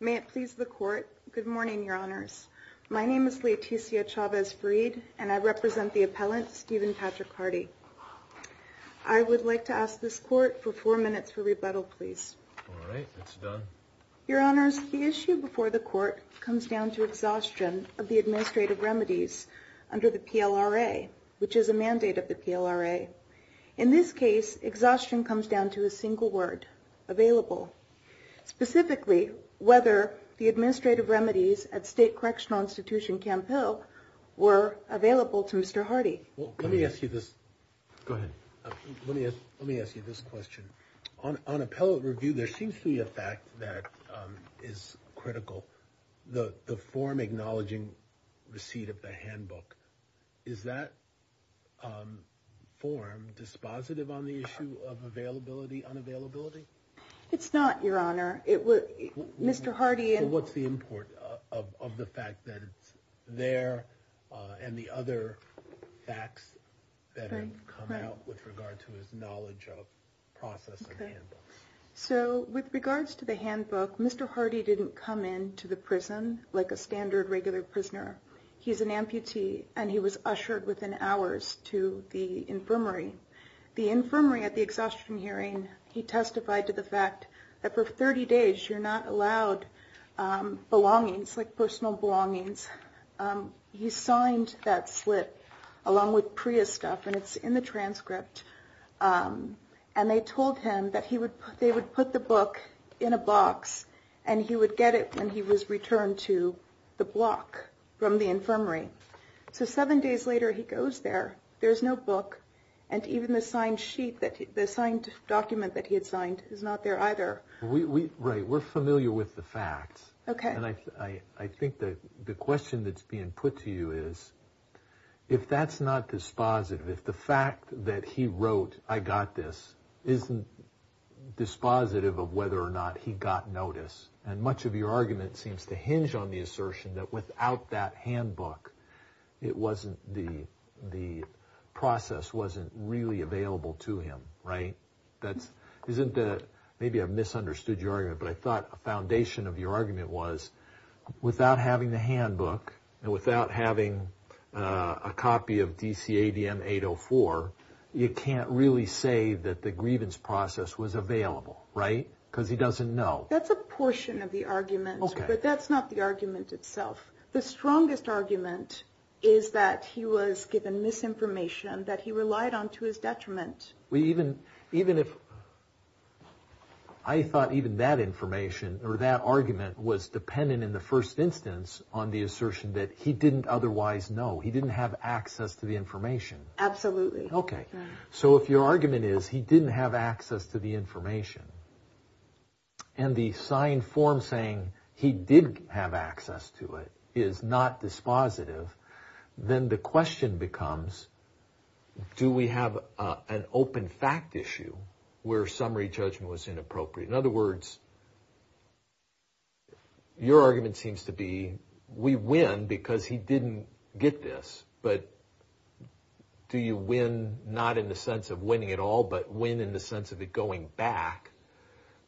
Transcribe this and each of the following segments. May it please the Court. Good morning, Your Honors. My name is Leticia Chavez-Farid, and I represent the appellant, Stephen Patrick Hardy. I would like to ask this Court for four minutes for rebuttal, please. All right. It's done. Your Honors, the issue before the Court comes down to exhaustion of the administrative remedies under the PLRA, which is a mandate of the PLRA. In this case, exhaustion comes down to a single word, available, specifically whether the administrative remedies at State Correctional Institution Camp Hill were available to Mr. Hardy. Well, let me ask you this. Go ahead. Let me ask you this question. On appellate review, there seems to be a fact that is critical, the form acknowledging receipt of the handbook. Is that form dispositive on the issue of availability, unavailability? It's not, Your Honor. Mr. Hardy... So what's the import of the fact that it's there, and the other facts that have come out with regard to his knowledge of process and handbook? So with regards to the handbook, Mr. Hardy didn't come into the prison like a standard, regular prisoner. He's an amputee, and he was ushered within hours to the infirmary. The infirmary, at the exhaustion hearing, he testified to the fact that for 30 days, you're not allowed belongings, like personal belongings. He signed that slip along with Priya's stuff, and it's in the transcript. And they told him that they would put the book in a box, and he would get it when he was returned to the block from the infirmary. So seven days later, he goes there. There's no book, and even the signed sheet, the signed document that he had signed is not there either. Right. We're familiar with the facts. Okay. And I think that the question that's being put to you is, if that's not dispositive, if the fact that he wrote, I got this, isn't dispositive of whether or not he got notice, and much of your argument seems to hinge on the assertion that without that handbook, the process wasn't really available to him, right? Maybe I've misunderstood your argument, but I thought a foundation of your argument was, without having the handbook, and without having a copy of DCADM 804, you can't really say that the grievance process was available, right? Because he doesn't know. That's a portion of the argument, but that's not the argument itself. The strongest argument is that he was given misinformation that he relied on to his detriment. Even if, I thought even that information, or that argument was dependent in the first instance on the assertion that he didn't otherwise know. He didn't have access to the information. Absolutely. Okay. So if your argument is, he didn't have access to the information, and the signed form saying he did have access to it is not dispositive, then the question becomes, do we have an open fact issue where summary judgment was inappropriate? In other words, your argument seems to be, we win because he didn't get this, but do you win not in the sense of winning at all, but win in the sense of it going back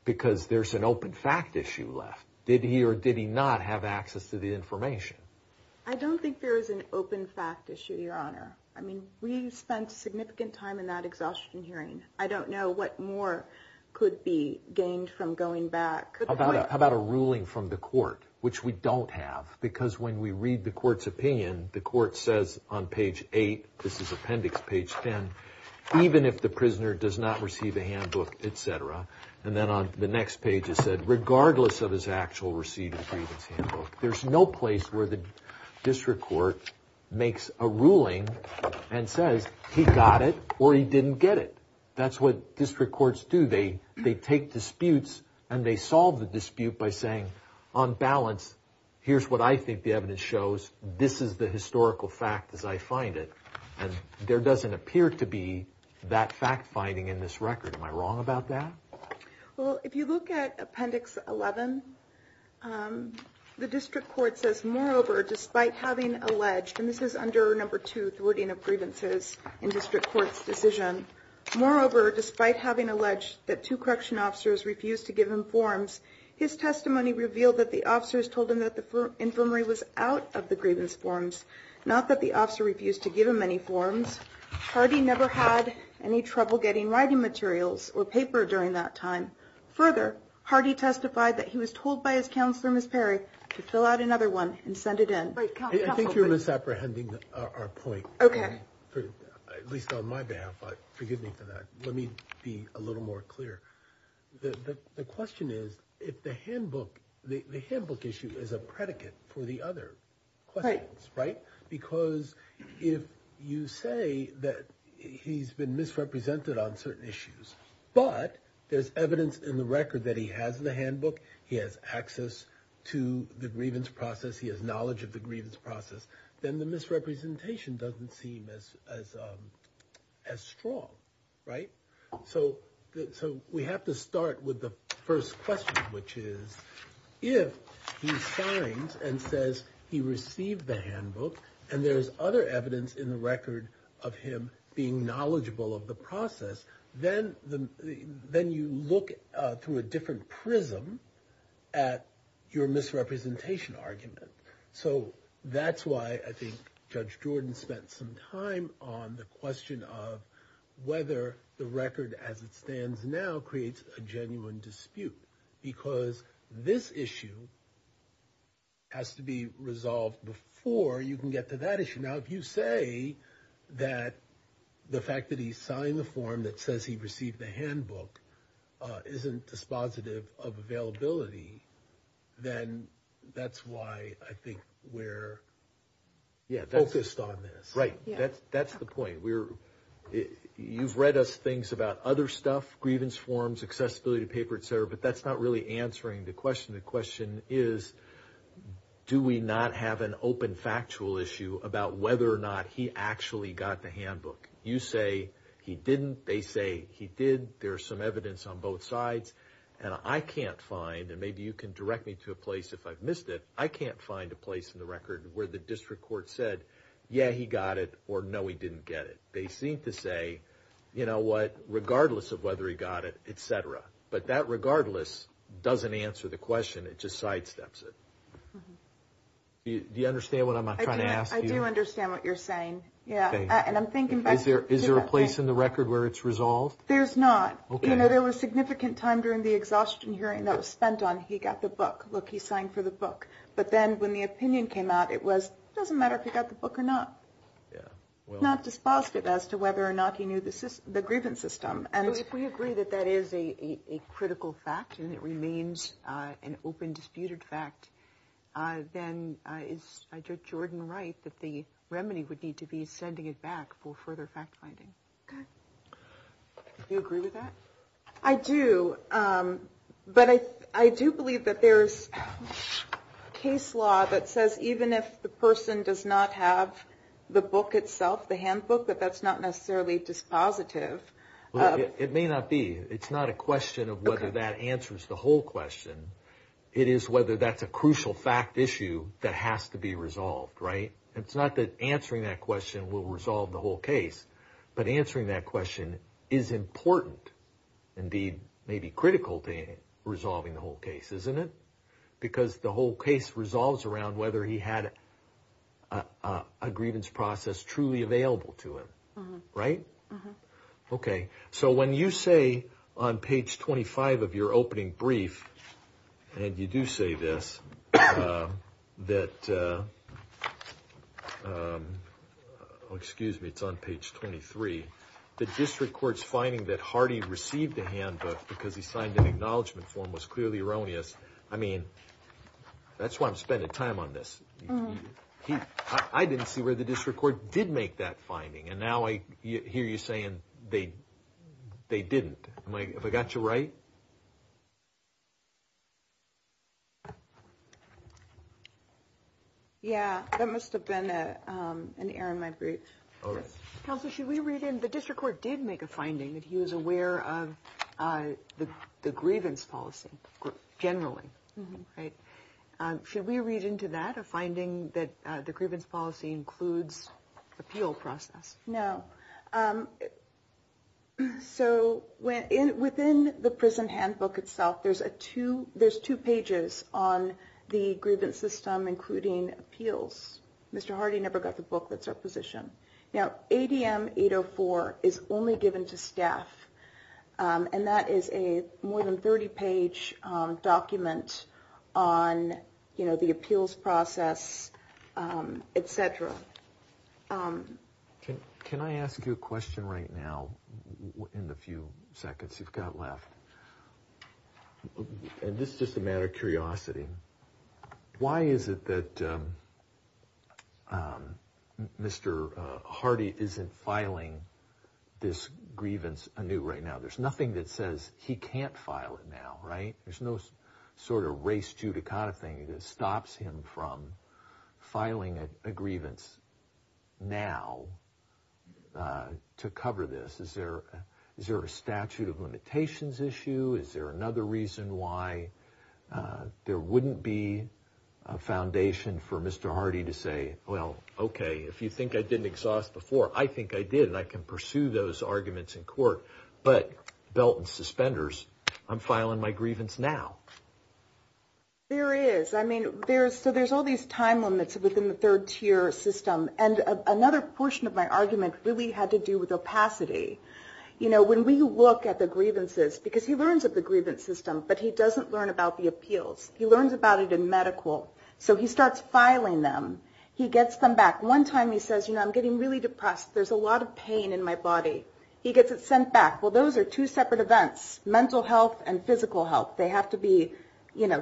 because there's an open fact issue left? Did he or did he not have access to the information? I don't think there is an open fact issue, Your Honor. I mean, we spent significant time in that exhaustion hearing. I don't know what more could be gained from going back. How about a ruling from the court, which we don't have? Because when we read the court's opinion, the court says on page eight, this is appendix page 10, even if the prisoner does not receive a handbook, et cetera, and then on the next page it said, regardless of his actual receipt of the grievance handbook, there's no place where the district court makes a ruling and says he got it or he didn't get it. That's what district courts do. They take disputes and they solve the dispute by saying, on balance, here's what I think the evidence shows. This is the historical fact as I find it, and there doesn't appear to be that fact finding in this record. Am I wrong about that? Well, if you look at appendix 11, the district court says, moreover, despite having alleged, and this is under number two, thwarting of grievances in district court's decision, moreover, despite having alleged that two correction officers refused to give him forms, his testimony revealed that the officers told him that the infirmary was out of the grievance forms, not that the officer refused to give him any forms. Hardy never had any trouble getting writing materials or paper during that time. Further, Hardy testified that he was told by his counselor, Ms. Perry, to fill out another one and send it in. I think you're misapprehending our point, at least on my behalf, but forgive me for that. Let me be a little more clear. The question is, the handbook issue is a predicate for the other questions, right? Because if you say that he's been misrepresented on certain issues, but there's evidence in the record that he has the handbook, he has access to the grievance process, he has knowledge of the grievance process, then the misrepresentation doesn't seem as strong, right? So we have to start with the first question, which is, if he signs and says he received the handbook and there's other evidence in the record of him being knowledgeable of the process, then you look through a different prism at your misrepresentation argument. So that's why I think Judge Jordan spent some time on the question of whether the record as it stands now creates a genuine dispute, because this issue has to be resolved before you can get to that issue. Now, if you say that the fact that he signed the form that says he received the handbook isn't dispositive of availability, then that's why I think we're focused on this. Right, that's the point. You've read us things about other stuff, grievance forms, accessibility paper, et cetera, but that's not really answering the question. The question is, do we not have an open factual issue about whether or not he actually got the handbook? You say he didn't, they say he did, there's some evidence on both sides, and I can't find, and maybe you can direct me to a place if I've missed it, I can't find a place in the record where the district court said, yeah, he got it, or no, he didn't get it. They seem to say, you know what, regardless of whether he got it, et cetera. But that regardless doesn't answer the question, it just sidesteps it. Do you understand what I'm trying to ask you? I do understand what you're saying. Yeah, and I'm thinking about... Is there a place in the record where it's resolved? There's not. You know, there was significant time during the exhaustion hearing that was spent on, he got the book, look, he signed for the book. But then when the opinion came out, it was, doesn't matter if he got the book or not. It's not dispositive as to whether or not he knew the grievance system. If we agree that that is a critical fact and it remains an open disputed fact, then is Judge Jordan right that the remedy would need to be sending it back for further fact finding? Do you agree with that? I do. But I do believe that there's case law that says even if the person does not have the book itself, the handbook, that that's not necessarily dispositive. It may not be. It's not a question of whether that answers the whole question. It is whether that's a crucial fact issue that has to be resolved, right? It's not that answering that question will resolve the whole case, but answering that question is important, indeed, maybe critical to resolving the whole case, isn't it? Because the whole case resolves around whether he had a grievance process truly available to him, right? Okay. So when you say on page 25 of your opening brief, and you do say this, that, oh, excuse me, it's on page 23, the district court's finding that Hardy received the handbook because he signed an acknowledgement form was clearly erroneous. I mean, that's why I'm spending time on this. I didn't see where the district court did make that finding. And now I hear you say they didn't. Have I got you right? Yeah, that must have been an error in my brief. All right. Counsel, should we read in? The district court did make a finding that he was aware of the grievance policy generally, right? Should we read into that a finding that the grievance policy includes appeal process? No. So within the prison handbook itself, there's two pages on the grievance system, including appeals. Mr. Hardy never got the book that's our position. Now, ADM 804 is only given to staff. And that is a more than 30-page document on the appeals process, et cetera. Can I ask you a question right now in the few seconds you've got left? And this is just a matter of curiosity. Why is it that Mr. Hardy isn't filing this grievance anew right now? There's nothing that says he can't file it now, right? There's no sort of race judicata thing that stops him from filing a grievance now to cover this. Is there a statute of limitations issue? Is there another reason why there wouldn't be a foundation for Mr. Hardy to say, well, okay, if you think I didn't exhaust before, I think I did, and I can pursue those arguments in court, but belt and suspenders, I'm filing my grievance now. There is. I mean, so there's all these time limits within the third tier system. And another portion of my argument really had to do with opacity. When we look at the grievances, because he learns of the grievance system, but he doesn't learn about the appeals. He learns about it in medical. So he starts filing them. He gets them back. One time he says, I'm getting really depressed. There's a lot of pain in my body. He gets it sent back. Well, those are two separate events, mental health and physical health. They have to be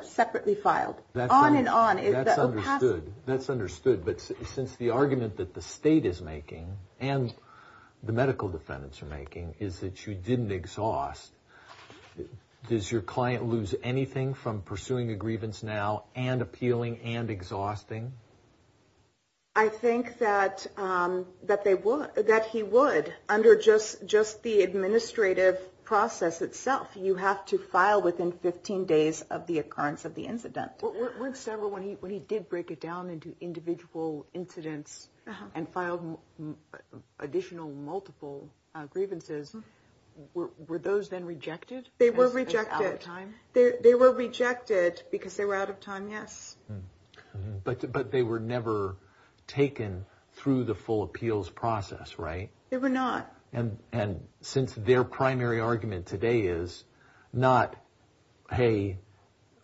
separately filed. On and on. That's understood. That's understood. But since the argument that the state is making and the medical defendants are making is that you didn't exhaust, does your client lose anything from pursuing a grievance now and appealing and exhausting? I think that he would under just the administrative process itself. You have to file within 15 days of the occurrence of the incident. Weren't several when he did break it down into individual incidents and filed additional multiple grievances, were those then rejected? They were rejected. As out of time? They were rejected because they were out of time, yes. But they were never taken through the full appeals process, right? They were not. And since their primary argument today is not, hey,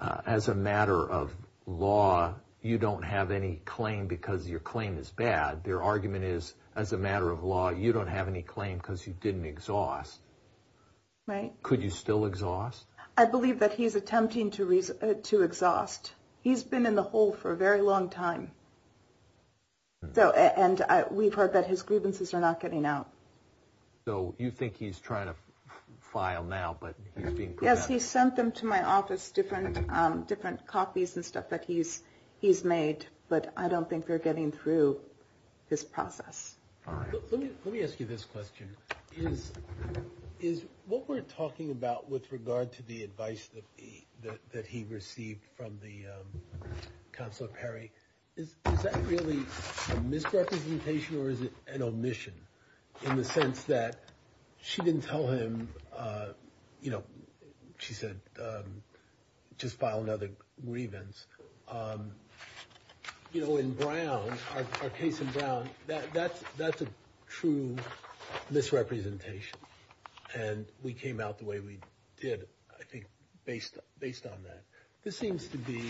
as a matter of law, you don't have any claim because your claim is bad. Their argument is, as a matter of law, you don't have any claim because you didn't exhaust. Could you still exhaust? I believe that he's attempting to exhaust. He's been in the hole for a very long time. And we've heard that his grievances are not getting out. So you think he's trying to file now, but he's being put out? Yes, he sent them to my office, different copies and stuff that he's made. But I don't think they're getting through his process. Let me, let me ask you this question. Is, is what we're talking about with regard to the advice that he, that he received from the Counselor Perry, is that really a misrepresentation or is it an omission? In the sense that she didn't tell him, you know, she said, just file another grievance. You know, in Brown, our case in Brown, that's, that's a true misrepresentation. And we came out the way we did, I think, based, based on that. This seems to be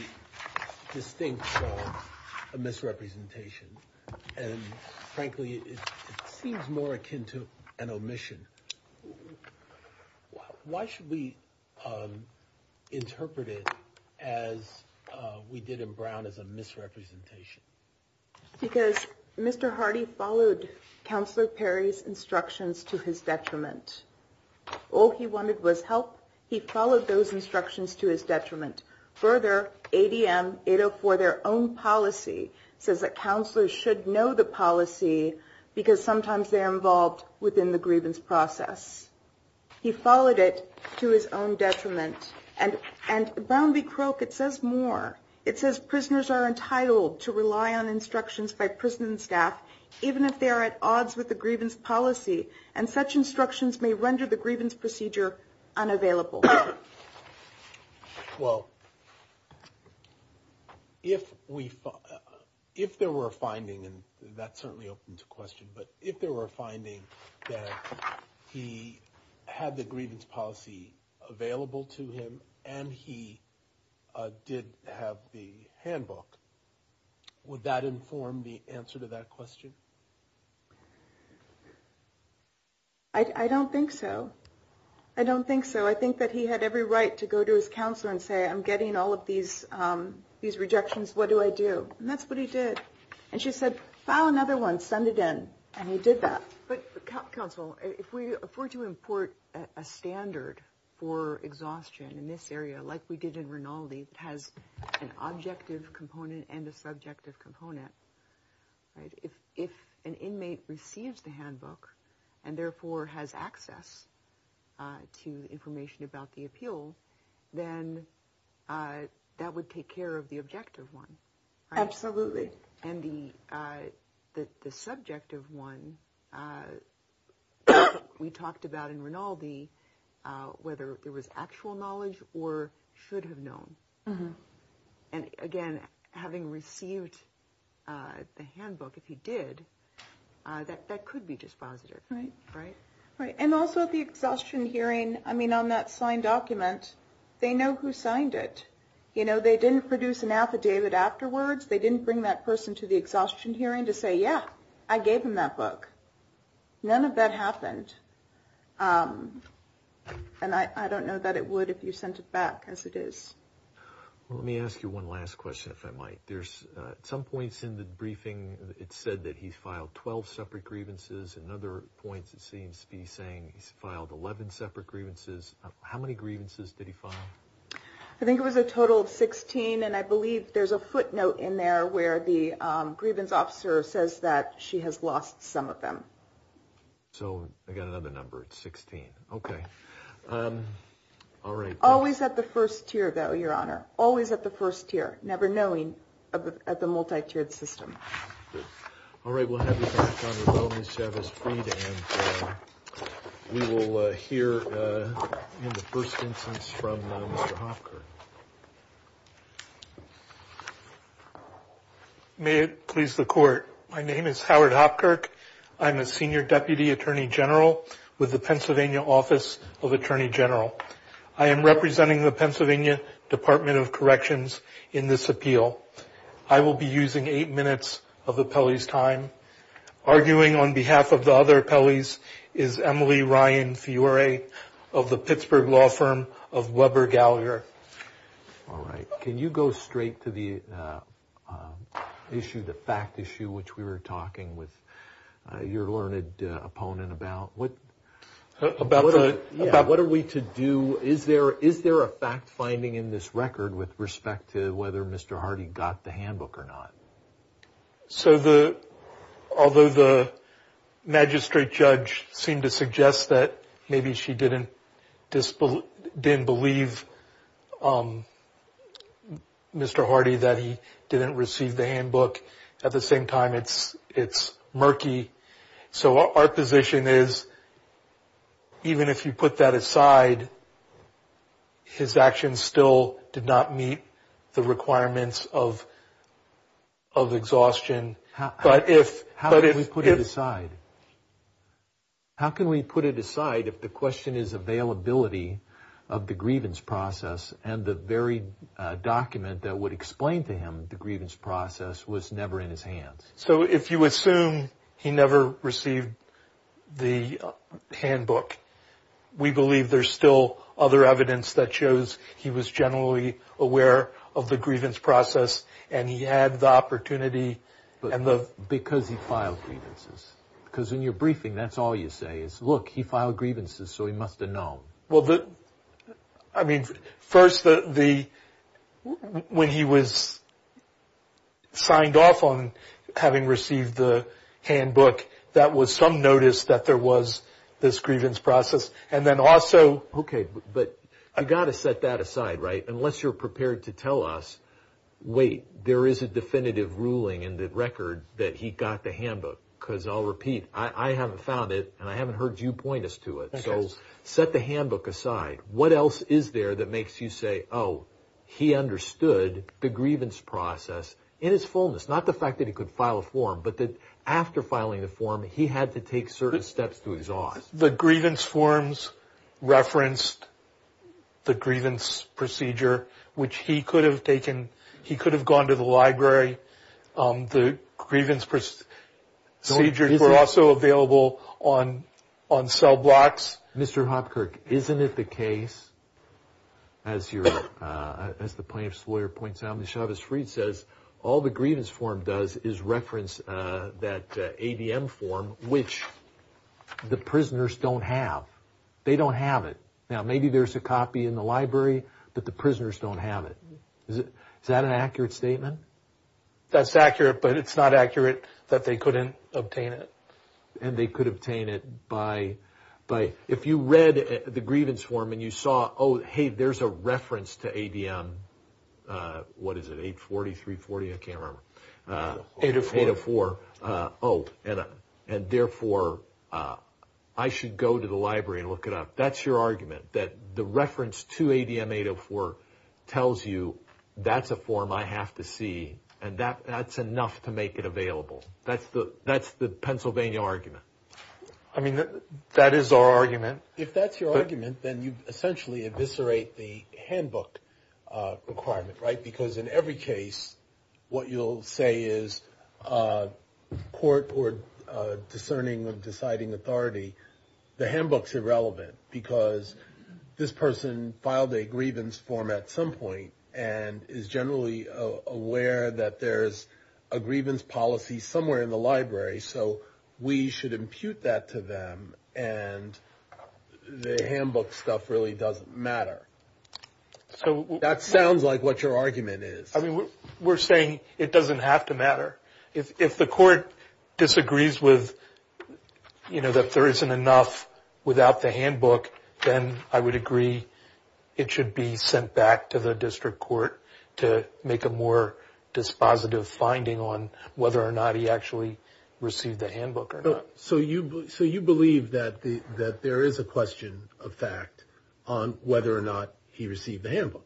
distinct from a misrepresentation. And frankly, it seems more akin to an omission. Why should we interpret it as we did in Brown as a misrepresentation? Because Mr. Hardy followed Counselor Perry's instructions to his detriment. All he wanted was help. He followed those instructions to his detriment. Further, ADM 804, their own policy, says that counselors should know the policy because sometimes they're involved within the grievance process. He followed it to his own detriment. And, and Brown v. Croke, it says more. It says prisoners are entitled to rely on instructions by prison staff, even if they are at odds with the grievance policy. And such instructions may render the grievance procedure unavailable. Well, if we, if there were a finding, and that's certainly open to question, but if there were a finding that he had the grievance policy available to him and he did have the handbook, would that inform the answer to that question? I don't think so. I don't think so. I think that he had every right to go to his counselor and say, I'm getting all of these, these rejections, what do I do? And she said, file another one, send it in. And he did that. But counsel, if we afford to import a standard for exhaustion in this area, like we did in Rinaldi, that has an objective component and a subjective component, right? If, if an inmate receives the handbook and therefore has access to information about the appeal, then that would take care of the objective one, right? Absolutely. And the, the, the subjective one, we talked about in Rinaldi, whether it was actual knowledge or should have known. And again, having received the handbook, if he did, that, that could be dispositive, right? Right. And also the exhaustion hearing, I mean, on that signed document, they know who signed it. You know, they didn't produce an affidavit afterwards. They didn't bring that person to the exhaustion hearing to say, yeah, I gave him that book. None of that happened. And I, I don't know that it would if you sent it back as it is. Well, let me ask you one last question, if I might. There's some points in the briefing, it said that he filed 12 separate grievances and other points, it seems to be saying he's filed 11 separate grievances. How many grievances did he file? I think it was a total of 16. And I believe there's a footnote in there where the grievance officer says that she has lost some of them. So I got another number. It's 16. Okay. All right. Always at the first tier, though, Your Honor, always at the first tier, never knowing at the multi-tiered system. All right. We'll have you back on your wellness from Mr. Hopkirk. May it please the court. My name is Howard Hopkirk. I'm a senior deputy attorney general with the Pennsylvania Office of Attorney General. I am representing the Pennsylvania Department of Corrections in this appeal. I will be using eight minutes of the appellee's time. Arguing on behalf of the other appellees is Emily Ryan Fiore of the Pittsburgh law firm of Weber Gallagher. All right. Can you go straight to the issue, the fact issue, which we were talking with your learned opponent about? What are we to do? Is there a fact finding in this record with respect to whether Mr. Hardy got the handbook or not? So although the magistrate judge seemed to suggest that she didn't believe Mr. Hardy that he didn't receive the handbook, at the same time, it's murky. So our position is even if you put that aside, his actions still did not meet the requirements of exhaustion. But if... How can we put it aside? How can we put it aside if the question is availability of the grievance process and the very document that would explain to him the grievance process was never in his hands? So if you assume he never received the handbook, we believe there's still other evidence that shows he was generally aware of the grievance process and he had the opportunity... Because he filed grievances. Because in your briefing, that's all you say is, look, he filed grievances, so he must have known. Well, I mean, first, when he was signed off on having received the handbook, that was some notice that there was this grievance process. And then also... Okay, but I got to set that aside, right? Unless you're prepared to tell us, wait, there is a definitive ruling in the record that he got the handbook, because I'll repeat, I haven't found it and I haven't heard you point us to it. So set the handbook aside. What else is there that makes you say, oh, he understood the grievance process in its fullness? Not the fact that he could file a form, but that after filing the form, he had to take certain steps to exhaust. The grievance forms referenced the grievance procedure, which he could have taken. He could have gone to the library. The grievance procedures were also available on cell blocks. Mr. Hopkirk, isn't it the case, as the plaintiff's lawyer points out, says, all the grievance form does is reference that ADM form, which the prisoners don't have. They don't have it. Now, maybe there's a copy in the library, but the prisoners don't have it. Is that an accurate statement? That's accurate, but it's not accurate that they couldn't obtain it. And they could obtain it by... If you read the grievance form and you saw, hey, there's a reference to ADM, what is it, 840, 340? I can't remember. 804. 804. Oh, and therefore, I should go to the library and look it up. That's your argument, that the reference to ADM 804 tells you that's a form I have to see, and that's enough to make it available. That's the Pennsylvania argument. I mean, that is our argument. If that's your argument, then you essentially eviscerate the handbook requirement, right? Because in every case, what you'll say is court or discerning of deciding authority, the handbook's irrelevant, because this person filed a grievance form at some point and is generally aware that there's a grievance policy somewhere in the library. So we should impute that to them, and the handbook stuff really doesn't matter. That sounds like what your argument is. I mean, we're saying it doesn't have to matter. If the court disagrees with, you know, that there isn't enough without the handbook, then I would agree it should be sent back to the district court to make a more dispositive finding on whether or not he actually received the handbook or not. So you believe that there is a question of fact on whether or not he received the handbook?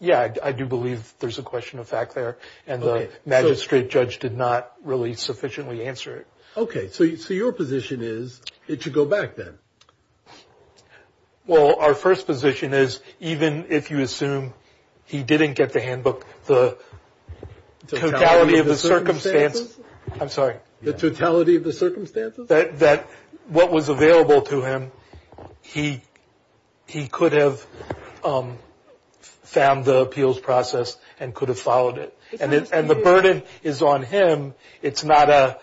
Yeah, I do believe there's a question of fact there, and the magistrate judge did not really sufficiently answer it. Okay, so your position is it should go back then? Well, our first position is even if you assume he didn't get the handbook, the totality of the circumstances, I'm sorry. The totality of the circumstances? That what was available to him, he could have found the appeals process and could have followed it, and the burden is on him. It's not a,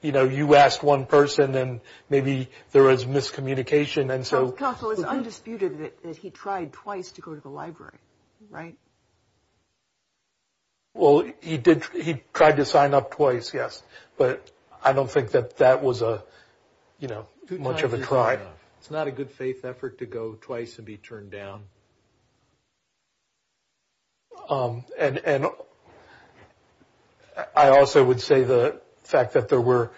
you know, you asked one person, and maybe there was miscommunication, and so. Counsel, it's undisputed that he tried twice to go to the library, right? Well, he did, he tried to sign up twice, yes, but I don't think that that was a, you know, much of a try. It's not a good faith effort to go twice and be turned down. And I also would say the fact that there were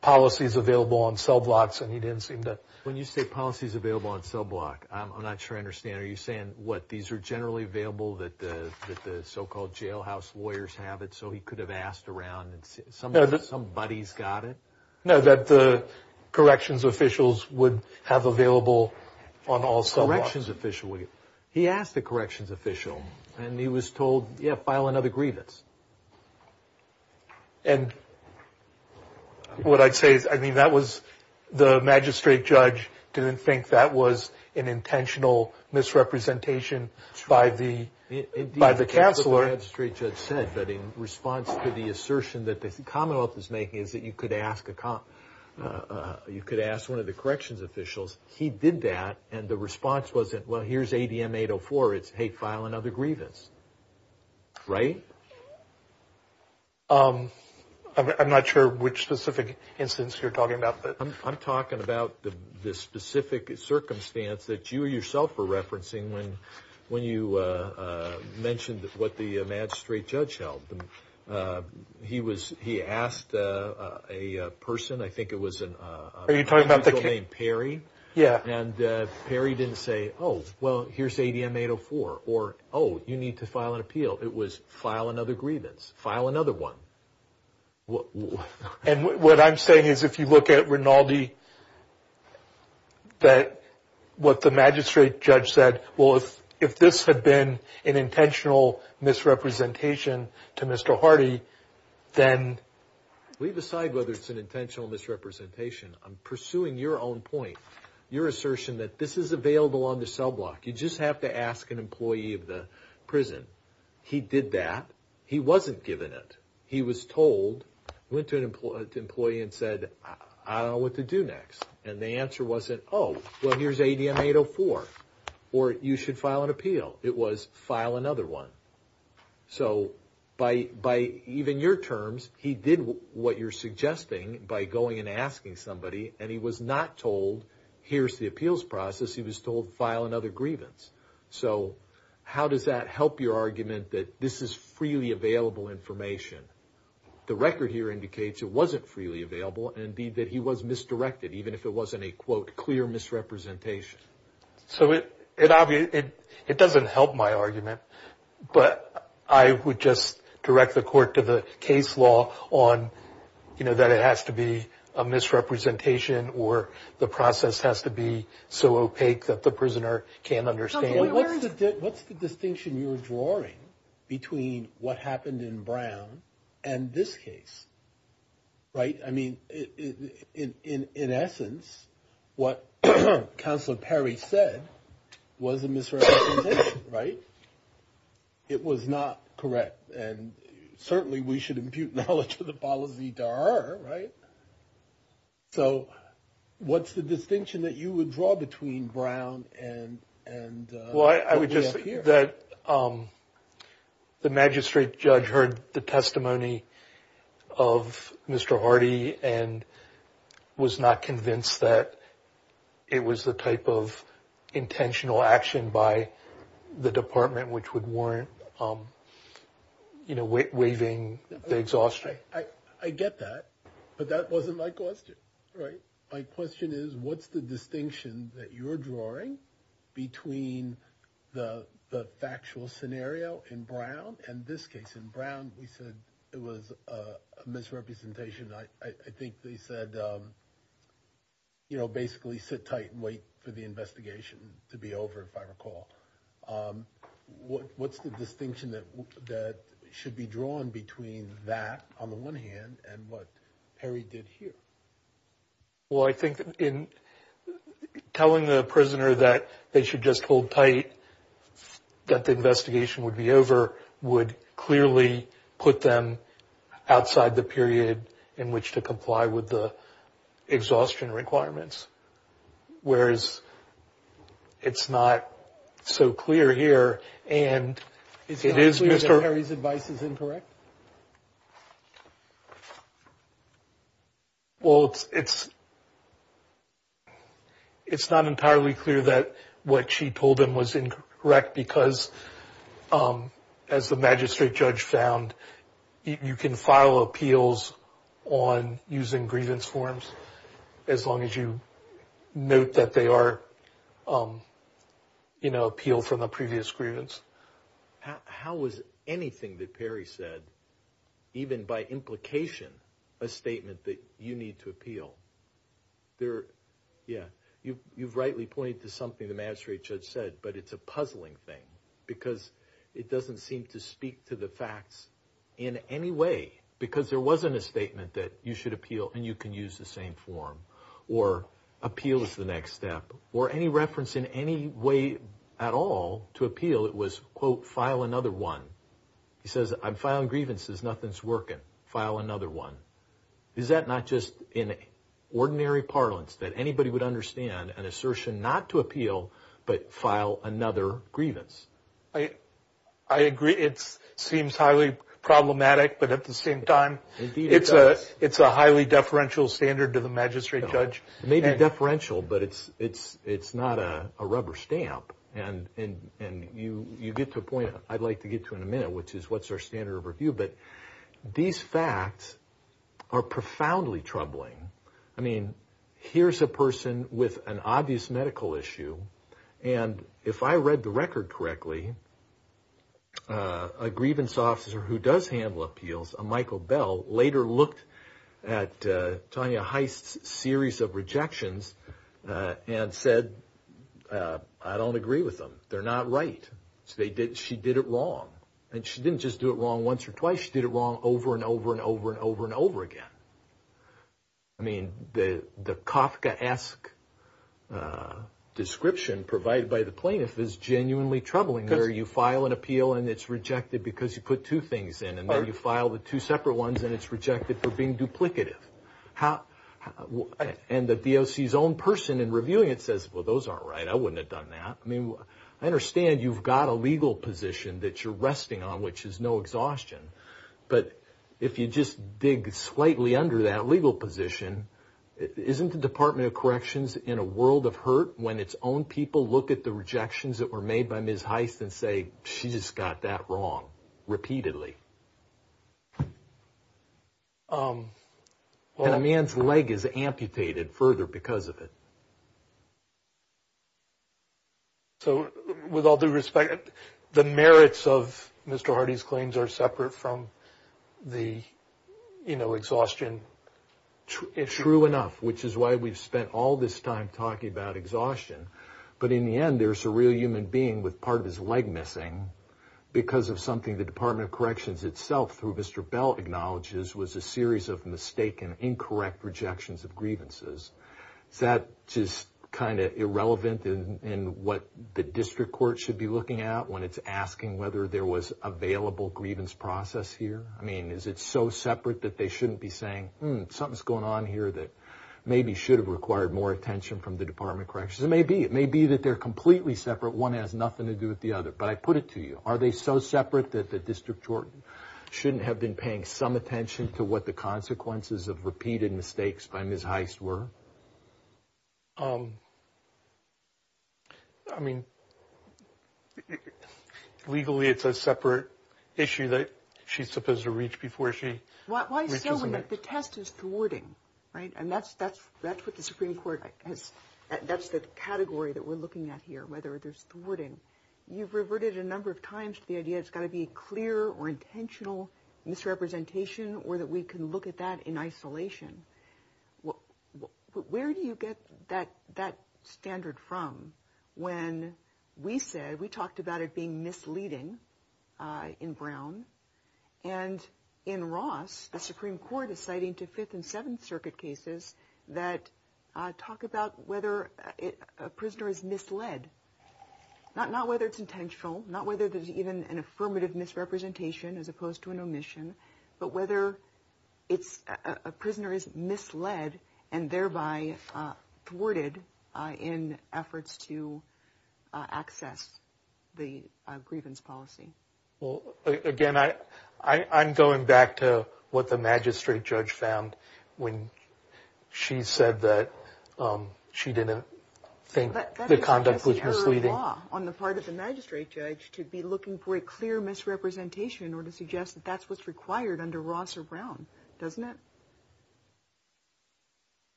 policies available on cell blocks, and he didn't seem to. When you say policies available on cell block, I'm not sure I understand. Are you saying, what, these are generally available that the so-called jailhouse lawyers have it, so he could have asked around, and somebody's got it? No, that the corrections officials would have available on all cell blocks. Corrections official, he asked the corrections official, and he was told, yeah, file another grievance. And what I'd say is, I mean, that was, the magistrate judge didn't think that was an intentional misrepresentation by the counselor. The magistrate judge said that in response to the assertion that the Commonwealth is making, is that you could ask a, you could ask one of the corrections officials, he did that, and the response wasn't, well, here's ADM 804, it's, hey, file another grievance, right? I'm not sure which specific instance you're talking about, but. I'm talking about the specific circumstance that you yourself were referencing when you mentioned what the magistrate judge held. He was, he asked a person, I think it was an individual named Perry. Yeah. And Perry didn't say, oh, well, here's ADM 804, or, oh, you need to file an appeal. It was, file another grievance, file another one. And what I'm saying is, if you look at Rinaldi, that, what the magistrate judge said, well, if this had been an intentional misrepresentation to Mr. Hardy, then. Leave aside whether it's an intentional misrepresentation. I'm pursuing your own point, your assertion that this is available on the cell block. You just have to ask an employee of the prison. He did that. He wasn't given it. He was told, went to an employee and said, I don't know what to do next. And the answer wasn't, oh, well, here's ADM 804, or you should file an appeal. It was, file another one. So, by even your terms, he did what you're suggesting by going and asking somebody, and he was not told, here's the appeals process. He was told, file another grievance. So, how does that help your argument that this is freely available information? The record here indicates it wasn't freely available. And indeed, that he was misdirected, even if it wasn't a, quote, clear misrepresentation. So, it doesn't help my argument. But I would just direct the court to the case law on, you know, that it has to be a misrepresentation or the process has to be so opaque that the prisoner can't understand. What's the distinction you're drawing between what happened in Brown and this case? Right? I mean, in essence, what Counselor Perry said was a misrepresentation, right? It was not correct. And certainly, we should impute knowledge for the fallacy to her, right? Yeah. So, what's the distinction that you would draw between Brown and what we have here? Well, I would just say that the magistrate judge heard the testimony of Mr. Hardy and was not convinced that it was the type of intentional action by the department, which would warrant, you know, waiving the exhaustion. I get that, but that wasn't my question, right? My question is, what's the distinction that you're drawing between the factual scenario in Brown and this case? In Brown, we said it was a misrepresentation. I think they said, you know, basically sit tight and wait for the investigation to be over, if I recall. What's the distinction that should be drawn between that, on the one hand, and what Perry did here? Well, I think in telling the prisoner that they should just hold tight, that the investigation would be over, would clearly put them outside the period in which to comply with the exhaustion requirements. Whereas it's not so clear here. And it's not clear that Perry's advice is incorrect? Well, it's not entirely clear that what she told him was incorrect, because as the magistrate judge found, you can file appeals on using grievance forms as long as you note that they are, you know, appeal from the previous grievance. How was anything that Perry said, even by implication, a statement that you need to appeal? There, yeah, you've rightly pointed to something the magistrate judge said, but it's a puzzling thing, because it doesn't seem to speak to the facts in any way, because there wasn't a statement that you should appeal and you can use the same form, or appeal is the next step, or any reference in any way at all to appeal, it was, quote, file another one. He says, I'm filing grievances, nothing's working, file another one. Is that not just in ordinary parlance that anybody would understand an assertion not to appeal, but file another grievance? I agree, it seems highly problematic, but at the same time, it's a highly deferential standard to the magistrate judge. It may be deferential, but it's not a rubber stamp, and you get to a point, I'd like to get to in a minute, which is what's our standard of review, but these facts are profoundly troubling. I mean, here's a person with an obvious medical issue, and if I read the record correctly, a grievance officer who does handle appeals, a Michael Bell, later looked at Tonya Heist's series of rejections, and said, I don't agree with them, they're not right. She did it wrong, and she didn't just do it wrong once or twice, she did it wrong over, and over, and over, and over, and over again. I mean, the Kafkaesque description provided by the plaintiff is genuinely troubling, where you file an appeal, and it's rejected because you put two things in, and then you file the two separate ones, and it's rejected for being duplicative. And the DOC's own person in reviewing it says, well, those aren't right, I wouldn't have done that. I mean, I understand you've got a legal position that you're resting on, which is no exhaustion, but if you just dig slightly under that legal position, isn't the Department of Corrections in a world of hurt when its own people look at the rejections that were made by Ms. Heist and say, she just got that wrong, repeatedly? And a man's leg is amputated further because of it. So, with all due respect, the merits of Mr. Hardy's claims are separate from the exhaustion? True enough, which is why we've spent all this time talking about exhaustion. But in the end, there's a real human being with part of his leg missing, because of something the Department of Corrections itself, through Mr. Bell acknowledges, was a series of mistaken, incorrect rejections of grievances. Is that just kind of irrelevant in what the district court should be looking at when it's asking whether there was available grievance process here? I mean, is it so separate that they shouldn't be saying, something's going on here that maybe should have required more attention from the Department of Corrections? It may be. It may be that they're completely separate. One has nothing to do with the other. But I put it to you. Are they so separate that the district court shouldn't have been paying some attention to what the consequences of repeated mistakes by Ms. Heist were? I mean, legally, it's a separate issue that she's supposed to reach before she... Why is it so that the test is thwarting, right? And that's what the Supreme Court has. That's the category that we're looking at here, whether there's thwarting. It's got to be clear or intentional misrepresentation, or that we can look at that in isolation. Where do you get that standard from? When we said, we talked about it being misleading in Brown. And in Ross, the Supreme Court is citing to Fifth and Seventh Circuit cases that talk about whether a prisoner is misled. Not whether it's intentional, not whether there's even an affirmative misrepresentation as opposed to an omission, but whether a prisoner is misled and thereby thwarted in efforts to access the grievance policy. Well, again, I'm going back to what the magistrate judge found when she said that she didn't think the conduct was misleading. But that's just error of law on the part of the magistrate judge to be looking for a clear misrepresentation or to suggest that that's what's required under Ross or Brown, doesn't it?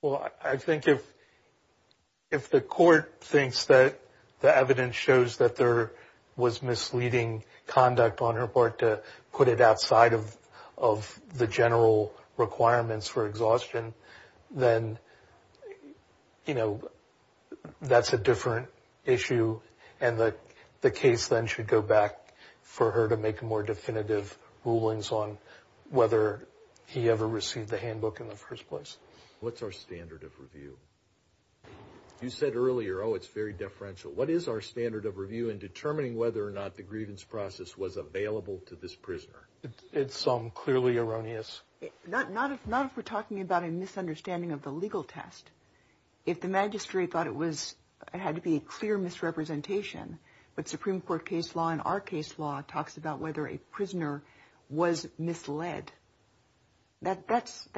Well, I think if the court thinks that the evidence shows that there was misleading conduct on her part to put it outside of the general requirements for exhaustion, then, you know, that's a different issue. And the case then should go back for her to make more definitive rulings on whether he ever received the handbook in the first place. What's our standard of review? You said earlier, oh, it's very deferential. What is our standard of review in determining whether or not the grievance process was available to this prisoner? It's some clearly erroneous. Not if we're talking about a misunderstanding of the legal test. If the magistrate thought it had to be a clear misrepresentation, but Supreme Court case law and our case law talks about whether a prisoner was misled, that's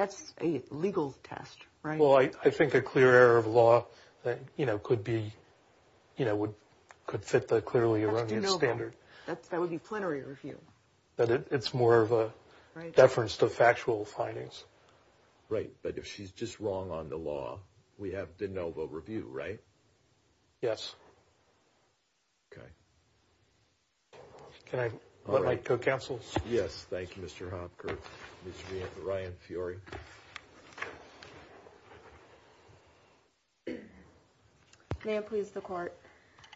a legal test, right? Well, I think a clear error of law, you know, could fit the clearly erroneous standard. That would be plenary review. But it's more of a deference to factual findings. Right, but if she's just wrong on the law, we have de novo review, right? Yes. Okay. Can I let my co-counsel speak? Yes, thank you, Mr. Hopker. Mr. Ryan Fiore. May it please the court.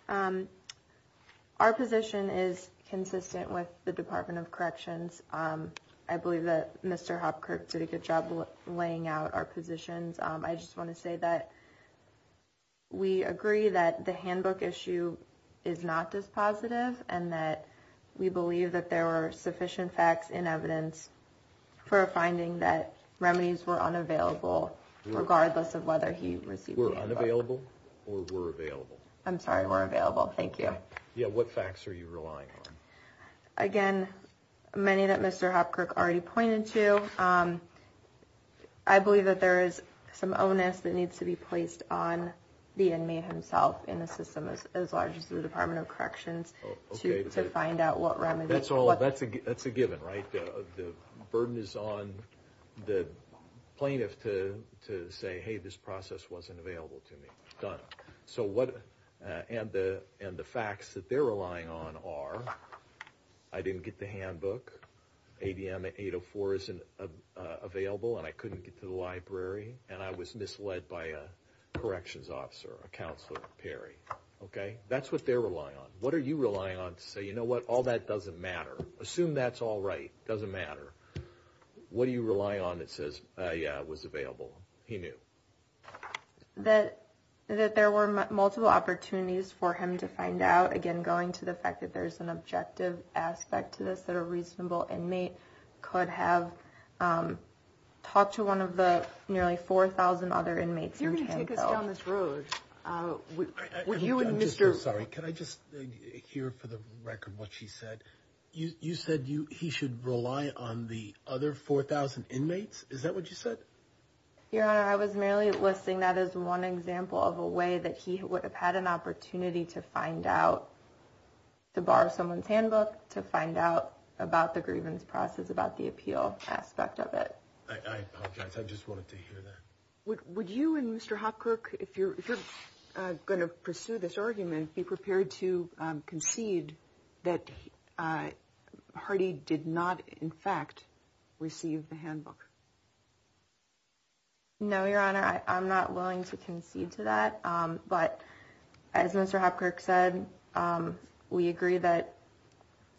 Our position is consistent with the Department of Corrections. I believe that Mr. Hopker did a good job laying out our positions. I just want to say that we agree that the handbook issue is not dispositive, and that we believe that there were sufficient facts and evidence for a finding that remedies were unavailable, regardless of whether he received the handbook. Or were available. I'm sorry, were available. Thank you. Yeah, what facts are you relying on? Again, many that Mr. Hopker already pointed to. I believe that there is some onus that needs to be placed on the inmate himself in a system as large as the Department of Corrections to find out what remedies. That's all, that's a given, right? The burden is on the plaintiff to say, hey, this process wasn't available to me. Done. So what, and the facts that they're relying on are, I didn't get the handbook, ADM 804 isn't available, and I couldn't get to the library, and I was misled by a corrections officer, a counselor, Perry. Okay, that's what they're relying on. What are you relying on to say, you know what, all that doesn't matter. Assume that's all right, doesn't matter. What do you rely on that says, yeah, it was available, he knew. That there were multiple opportunities for him to find out, again, going to the fact that there's an objective aspect to this, that a reasonable inmate could have talked to one of the nearly 4,000 other inmates. You're going to take us down this road. I'm sorry, can I just hear for the record what she said? You said he should rely on the other 4,000 inmates, is that what you said? Your Honor, I was merely listing that as one example of a way that he would have had an opportunity to find out, to borrow someone's handbook, to find out about the grievance process, about the appeal aspect of it. I apologize, I just wanted to hear that. Would you and Mr. Hopkirk, if you're going to pursue this argument, be prepared to concede that Hardy did not, in fact, receive the handbook? No, Your Honor, I'm not willing to concede to that. But as Mr. Hopkirk said, we agree that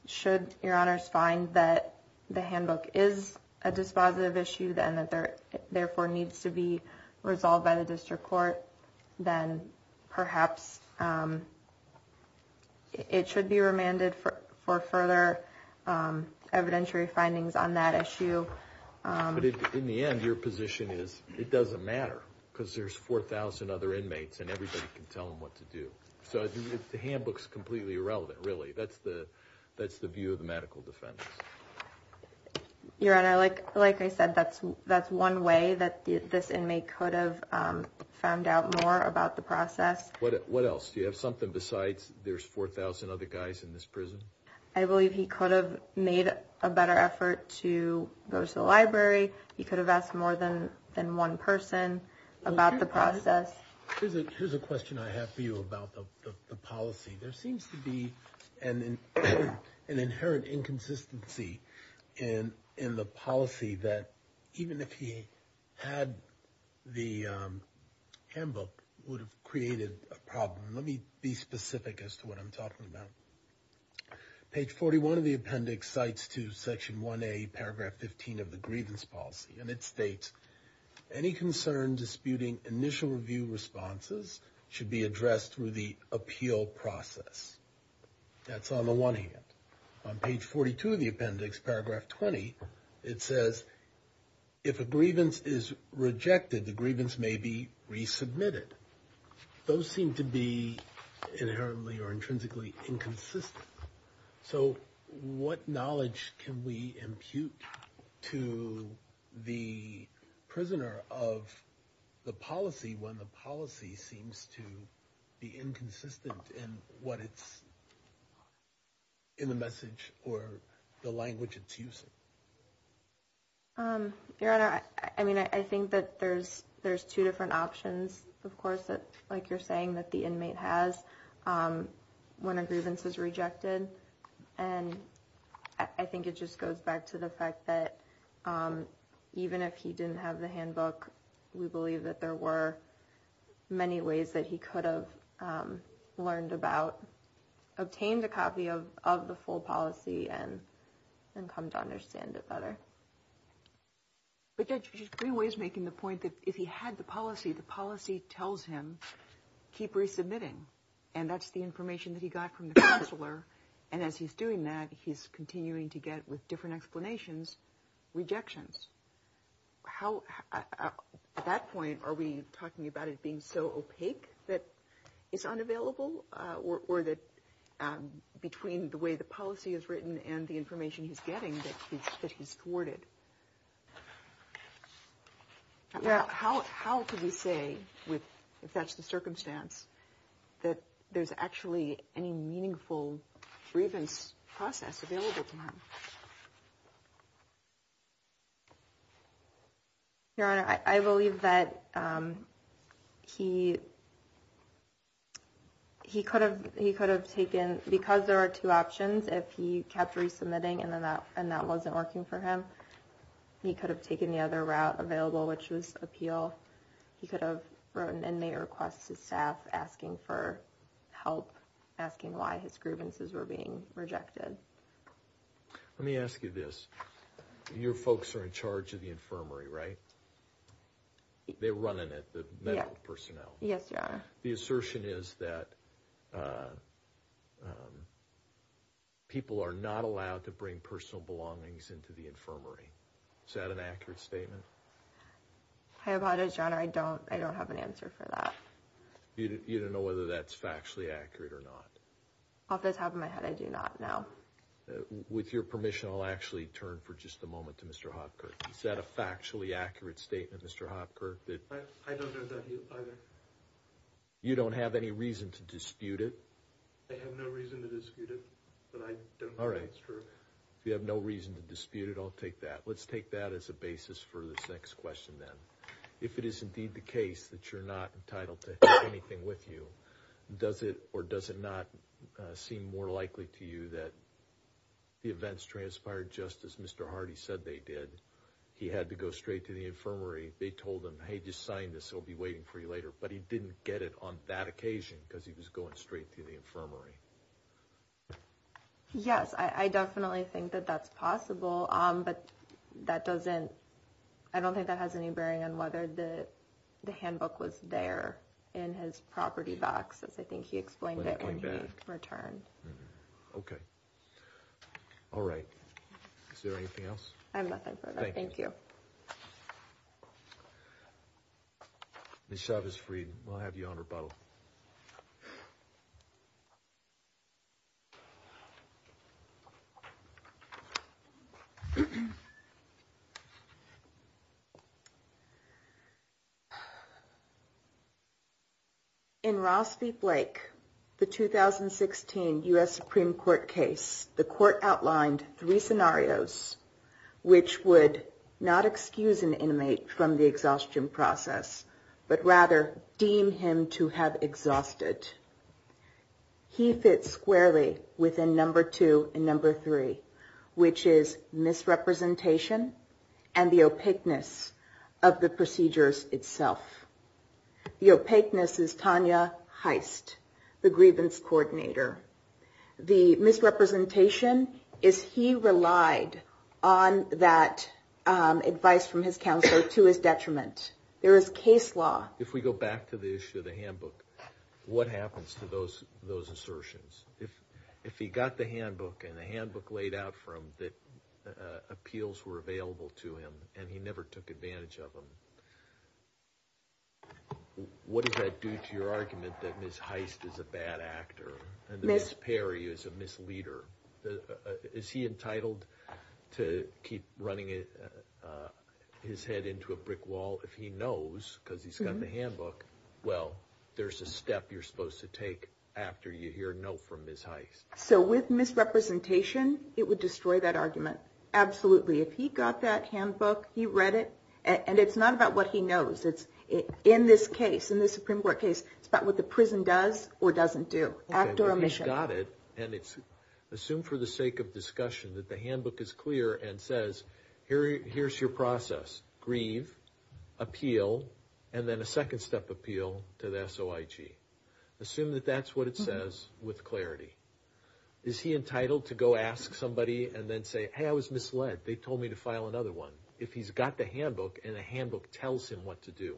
should Your Honors find that the handbook is a dispositive issue, then that there therefore needs to be resolved by the District Court, then perhaps it should be remanded for further evidentiary findings on that issue. But in the end, your position is it doesn't matter, because there's 4,000 other inmates and everybody can tell them what to do. So the handbook's completely irrelevant, really. That's the view of the medical defendants. Your Honor, like I said, that's one way that this inmate could have found out more about the process. What else? Do you have something besides there's 4,000 other guys in this prison? I believe he could have made a better effort to go to the library. He could have asked more than one person about the process. Here's a question I have for you about the policy. There seems to be an inherent inconsistency in the policy that even if he had the handbook, would have created a problem. Let me be specific as to what I'm talking about. Page 41 of the appendix cites to section 1A, paragraph 15 of the grievance policy. And it states, any concern disputing initial review responses should be addressed through the appeal process. That's on the one hand. On page 42 of the appendix, paragraph 20, it says, if a grievance is rejected, the grievance may be resubmitted. Those seem to be inherently or intrinsically inconsistent. So what knowledge can we impute to the prisoner of the policy when the policy seems to be inconsistent in what it's in the message or the language it's using? Your Honor, I mean, I think that there's two different options. Of course, like you're saying that the inmate has when a grievance is rejected. And I think it just goes back to the fact that even if he didn't have the handbook, we believe that there were many ways that he could have learned about, obtained a copy of the full policy and come to understand it better. But Judge Greenway is making the point that if he had the policy, the policy tells him keep resubmitting. And as he's doing that, he's continuing to get with different explanations, rejections. How at that point, are we talking about it being so opaque that it's unavailable or that between the way the policy is written and the information he's getting that he's thwarted? How could we say with if that's the circumstance, that there's actually any meaningful grievance process available to him? Your Honor, I believe that he could have taken because there are two options. If he kept resubmitting and that wasn't working for him, he could have taken the other route available, which was appeal. He could have wrote an inmate request to staff asking for help, asking why his grievances were being rejected. Let me ask you this. Your folks are in charge of the infirmary, right? They're running it, the medical personnel. Yes, Your Honor. The assertion is that people are not allowed to bring personal belongings into the infirmary. Is that an accurate statement? I apologize, Your Honor. I don't have an answer for that. You don't know whether that's factually accurate or not? Off the top of my head, I do not know. With your permission, I'll actually turn for just a moment to Mr. Hopkirk. Is that a factually accurate statement, Mr. Hopkirk? I don't know that either. You don't have any reason to dispute it? I have no reason to dispute it, but I don't know if it's true. If you have no reason to dispute it, I'll take that. Let's take that as a basis for this next question, then. If it is indeed the case that you're not entitled to anything with you, does it or does it not seem more likely to you that the events transpired just as Mr. Hardy said they did? He had to go straight to the infirmary. They told him, hey, just sign this. It'll be waiting for you later. But he didn't get it on that occasion because he was going straight to the infirmary. Yes, I definitely think that that's possible. But I don't think that has any bearing on whether the handbook was there in his property box, as I think he explained it when he returned. OK. All right. Is there anything else? I have nothing further. Thank you. Ms. Chavez-Freed, we'll have you on rebuttal. OK. In Ross v. Blake, the 2016 US Supreme Court case, the court outlined three scenarios which would not excuse an inmate from the exhaustion process, but rather deem him to have exhausted. He fits squarely within number two and number three, which is misrepresentation and the opaqueness of the procedures itself. The opaqueness is Tanya Heist, the grievance coordinator. The misrepresentation is he relied on that advice from his counselor to his detriment. There is case law. If we go back to the issue of the handbook, what happens to those assertions? If he got the handbook and the handbook laid out for him that appeals were available to him and he never took advantage of them, what does that do to your argument that Ms. Heist is a bad actor and that Ms. Perry is a misleader? Is he entitled to keep running his head into a brick wall if he knows, because he's got the handbook, well, there's a step you're supposed to take after you hear no from Ms. Heist? So with misrepresentation, it would destroy that argument. Absolutely. If he got that handbook, he read it, and it's not about what he knows. It's in this case, in this Supreme Court case, it's about what the prison does or doesn't do, act or omission. OK, but he's got it, and it's assumed for the sake of discussion that the handbook is clear and says, here's your process, grieve, appeal, and then a second-step appeal to the SOIG. Assume that that's what it says with clarity. Is he entitled to go ask somebody and then say, hey, I was misled, they told me to file another one, if he's got the handbook and the handbook tells him what to do?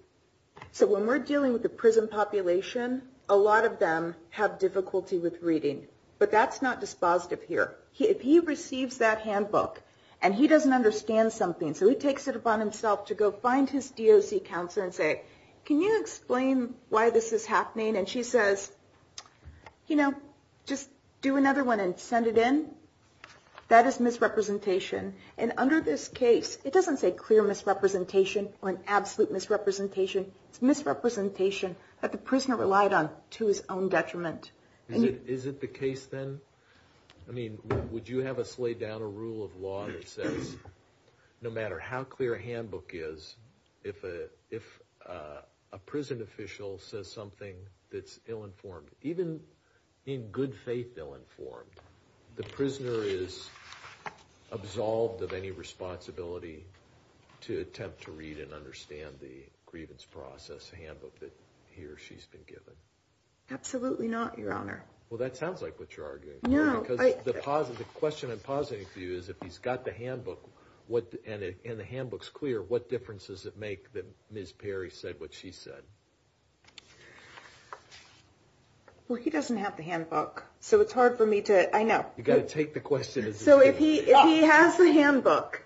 So when we're dealing with the prison population, a lot of them have difficulty with reading, but that's not dispositive here. If he receives that handbook and he doesn't understand something, so he takes it upon himself to go find his DOC counselor and say, can you explain why this is happening? And she says, you know, just do another one and send it in. That is misrepresentation. And under this case, it doesn't say clear misrepresentation or an absolute misrepresentation. It's misrepresentation that the prisoner relied on to his own detriment. Is it the case then? I mean, would you have us lay down a rule of law that says, no matter how clear a handbook is, if a prison official says something that's ill-informed, even in good faith ill-informed, the prisoner is absolved of any responsibility to attempt to read and understand the grievance process handbook that he or she's been given? Absolutely not, Your Honor. Well, that sounds like what you're arguing. The question I'm positing for you is, if he's got the handbook and the handbook's clear, what difference does it make that Ms. Perry said what she said? Well, he doesn't have the handbook, so it's hard for me to... I know. You've got to take the question as it is. So if he has the handbook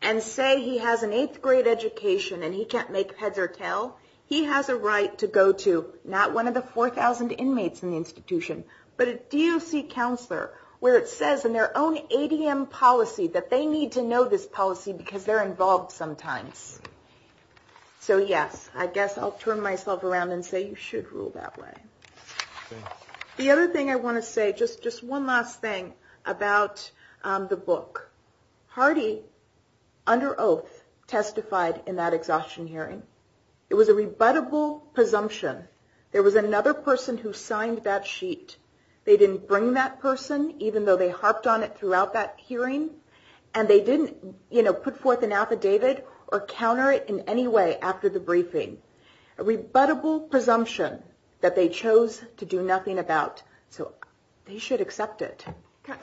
and say he has an eighth grade education and he can't make heads or tails, he has a right to go to not one of the 4,000 inmates in the institution, but a DOC counselor where it says in their own ADM policy that they need to know this policy because they're involved sometimes. So yes, I guess I'll turn myself around and say you should rule that way. The other thing I want to say, just one last thing about the book. Hardy, under oath, testified in that exhaustion hearing. It was a rebuttable presumption. There was another person who signed that sheet. They didn't bring that person, even though they harped on it throughout that hearing. And they didn't put forth an affidavit or counter it in any way after the briefing. A rebuttable presumption that they chose to do nothing about. So they should accept it.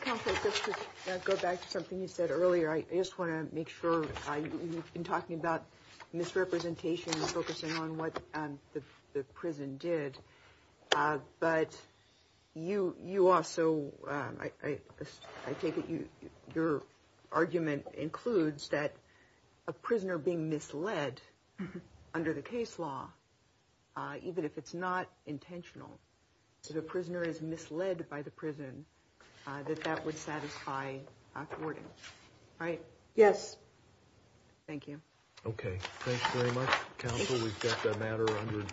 Counselor, just to go back to something you said earlier, I just want to make sure you've been talking about misrepresentation and focusing on what the prison did. But you also, I take it your argument includes that a prisoner being misled under the case law, even if it's not intentional, if a prisoner is misled by the prison, that that would satisfy a court. Right? Yes. Thank you. Okay. Thanks very much. Counsel, we've got that matter under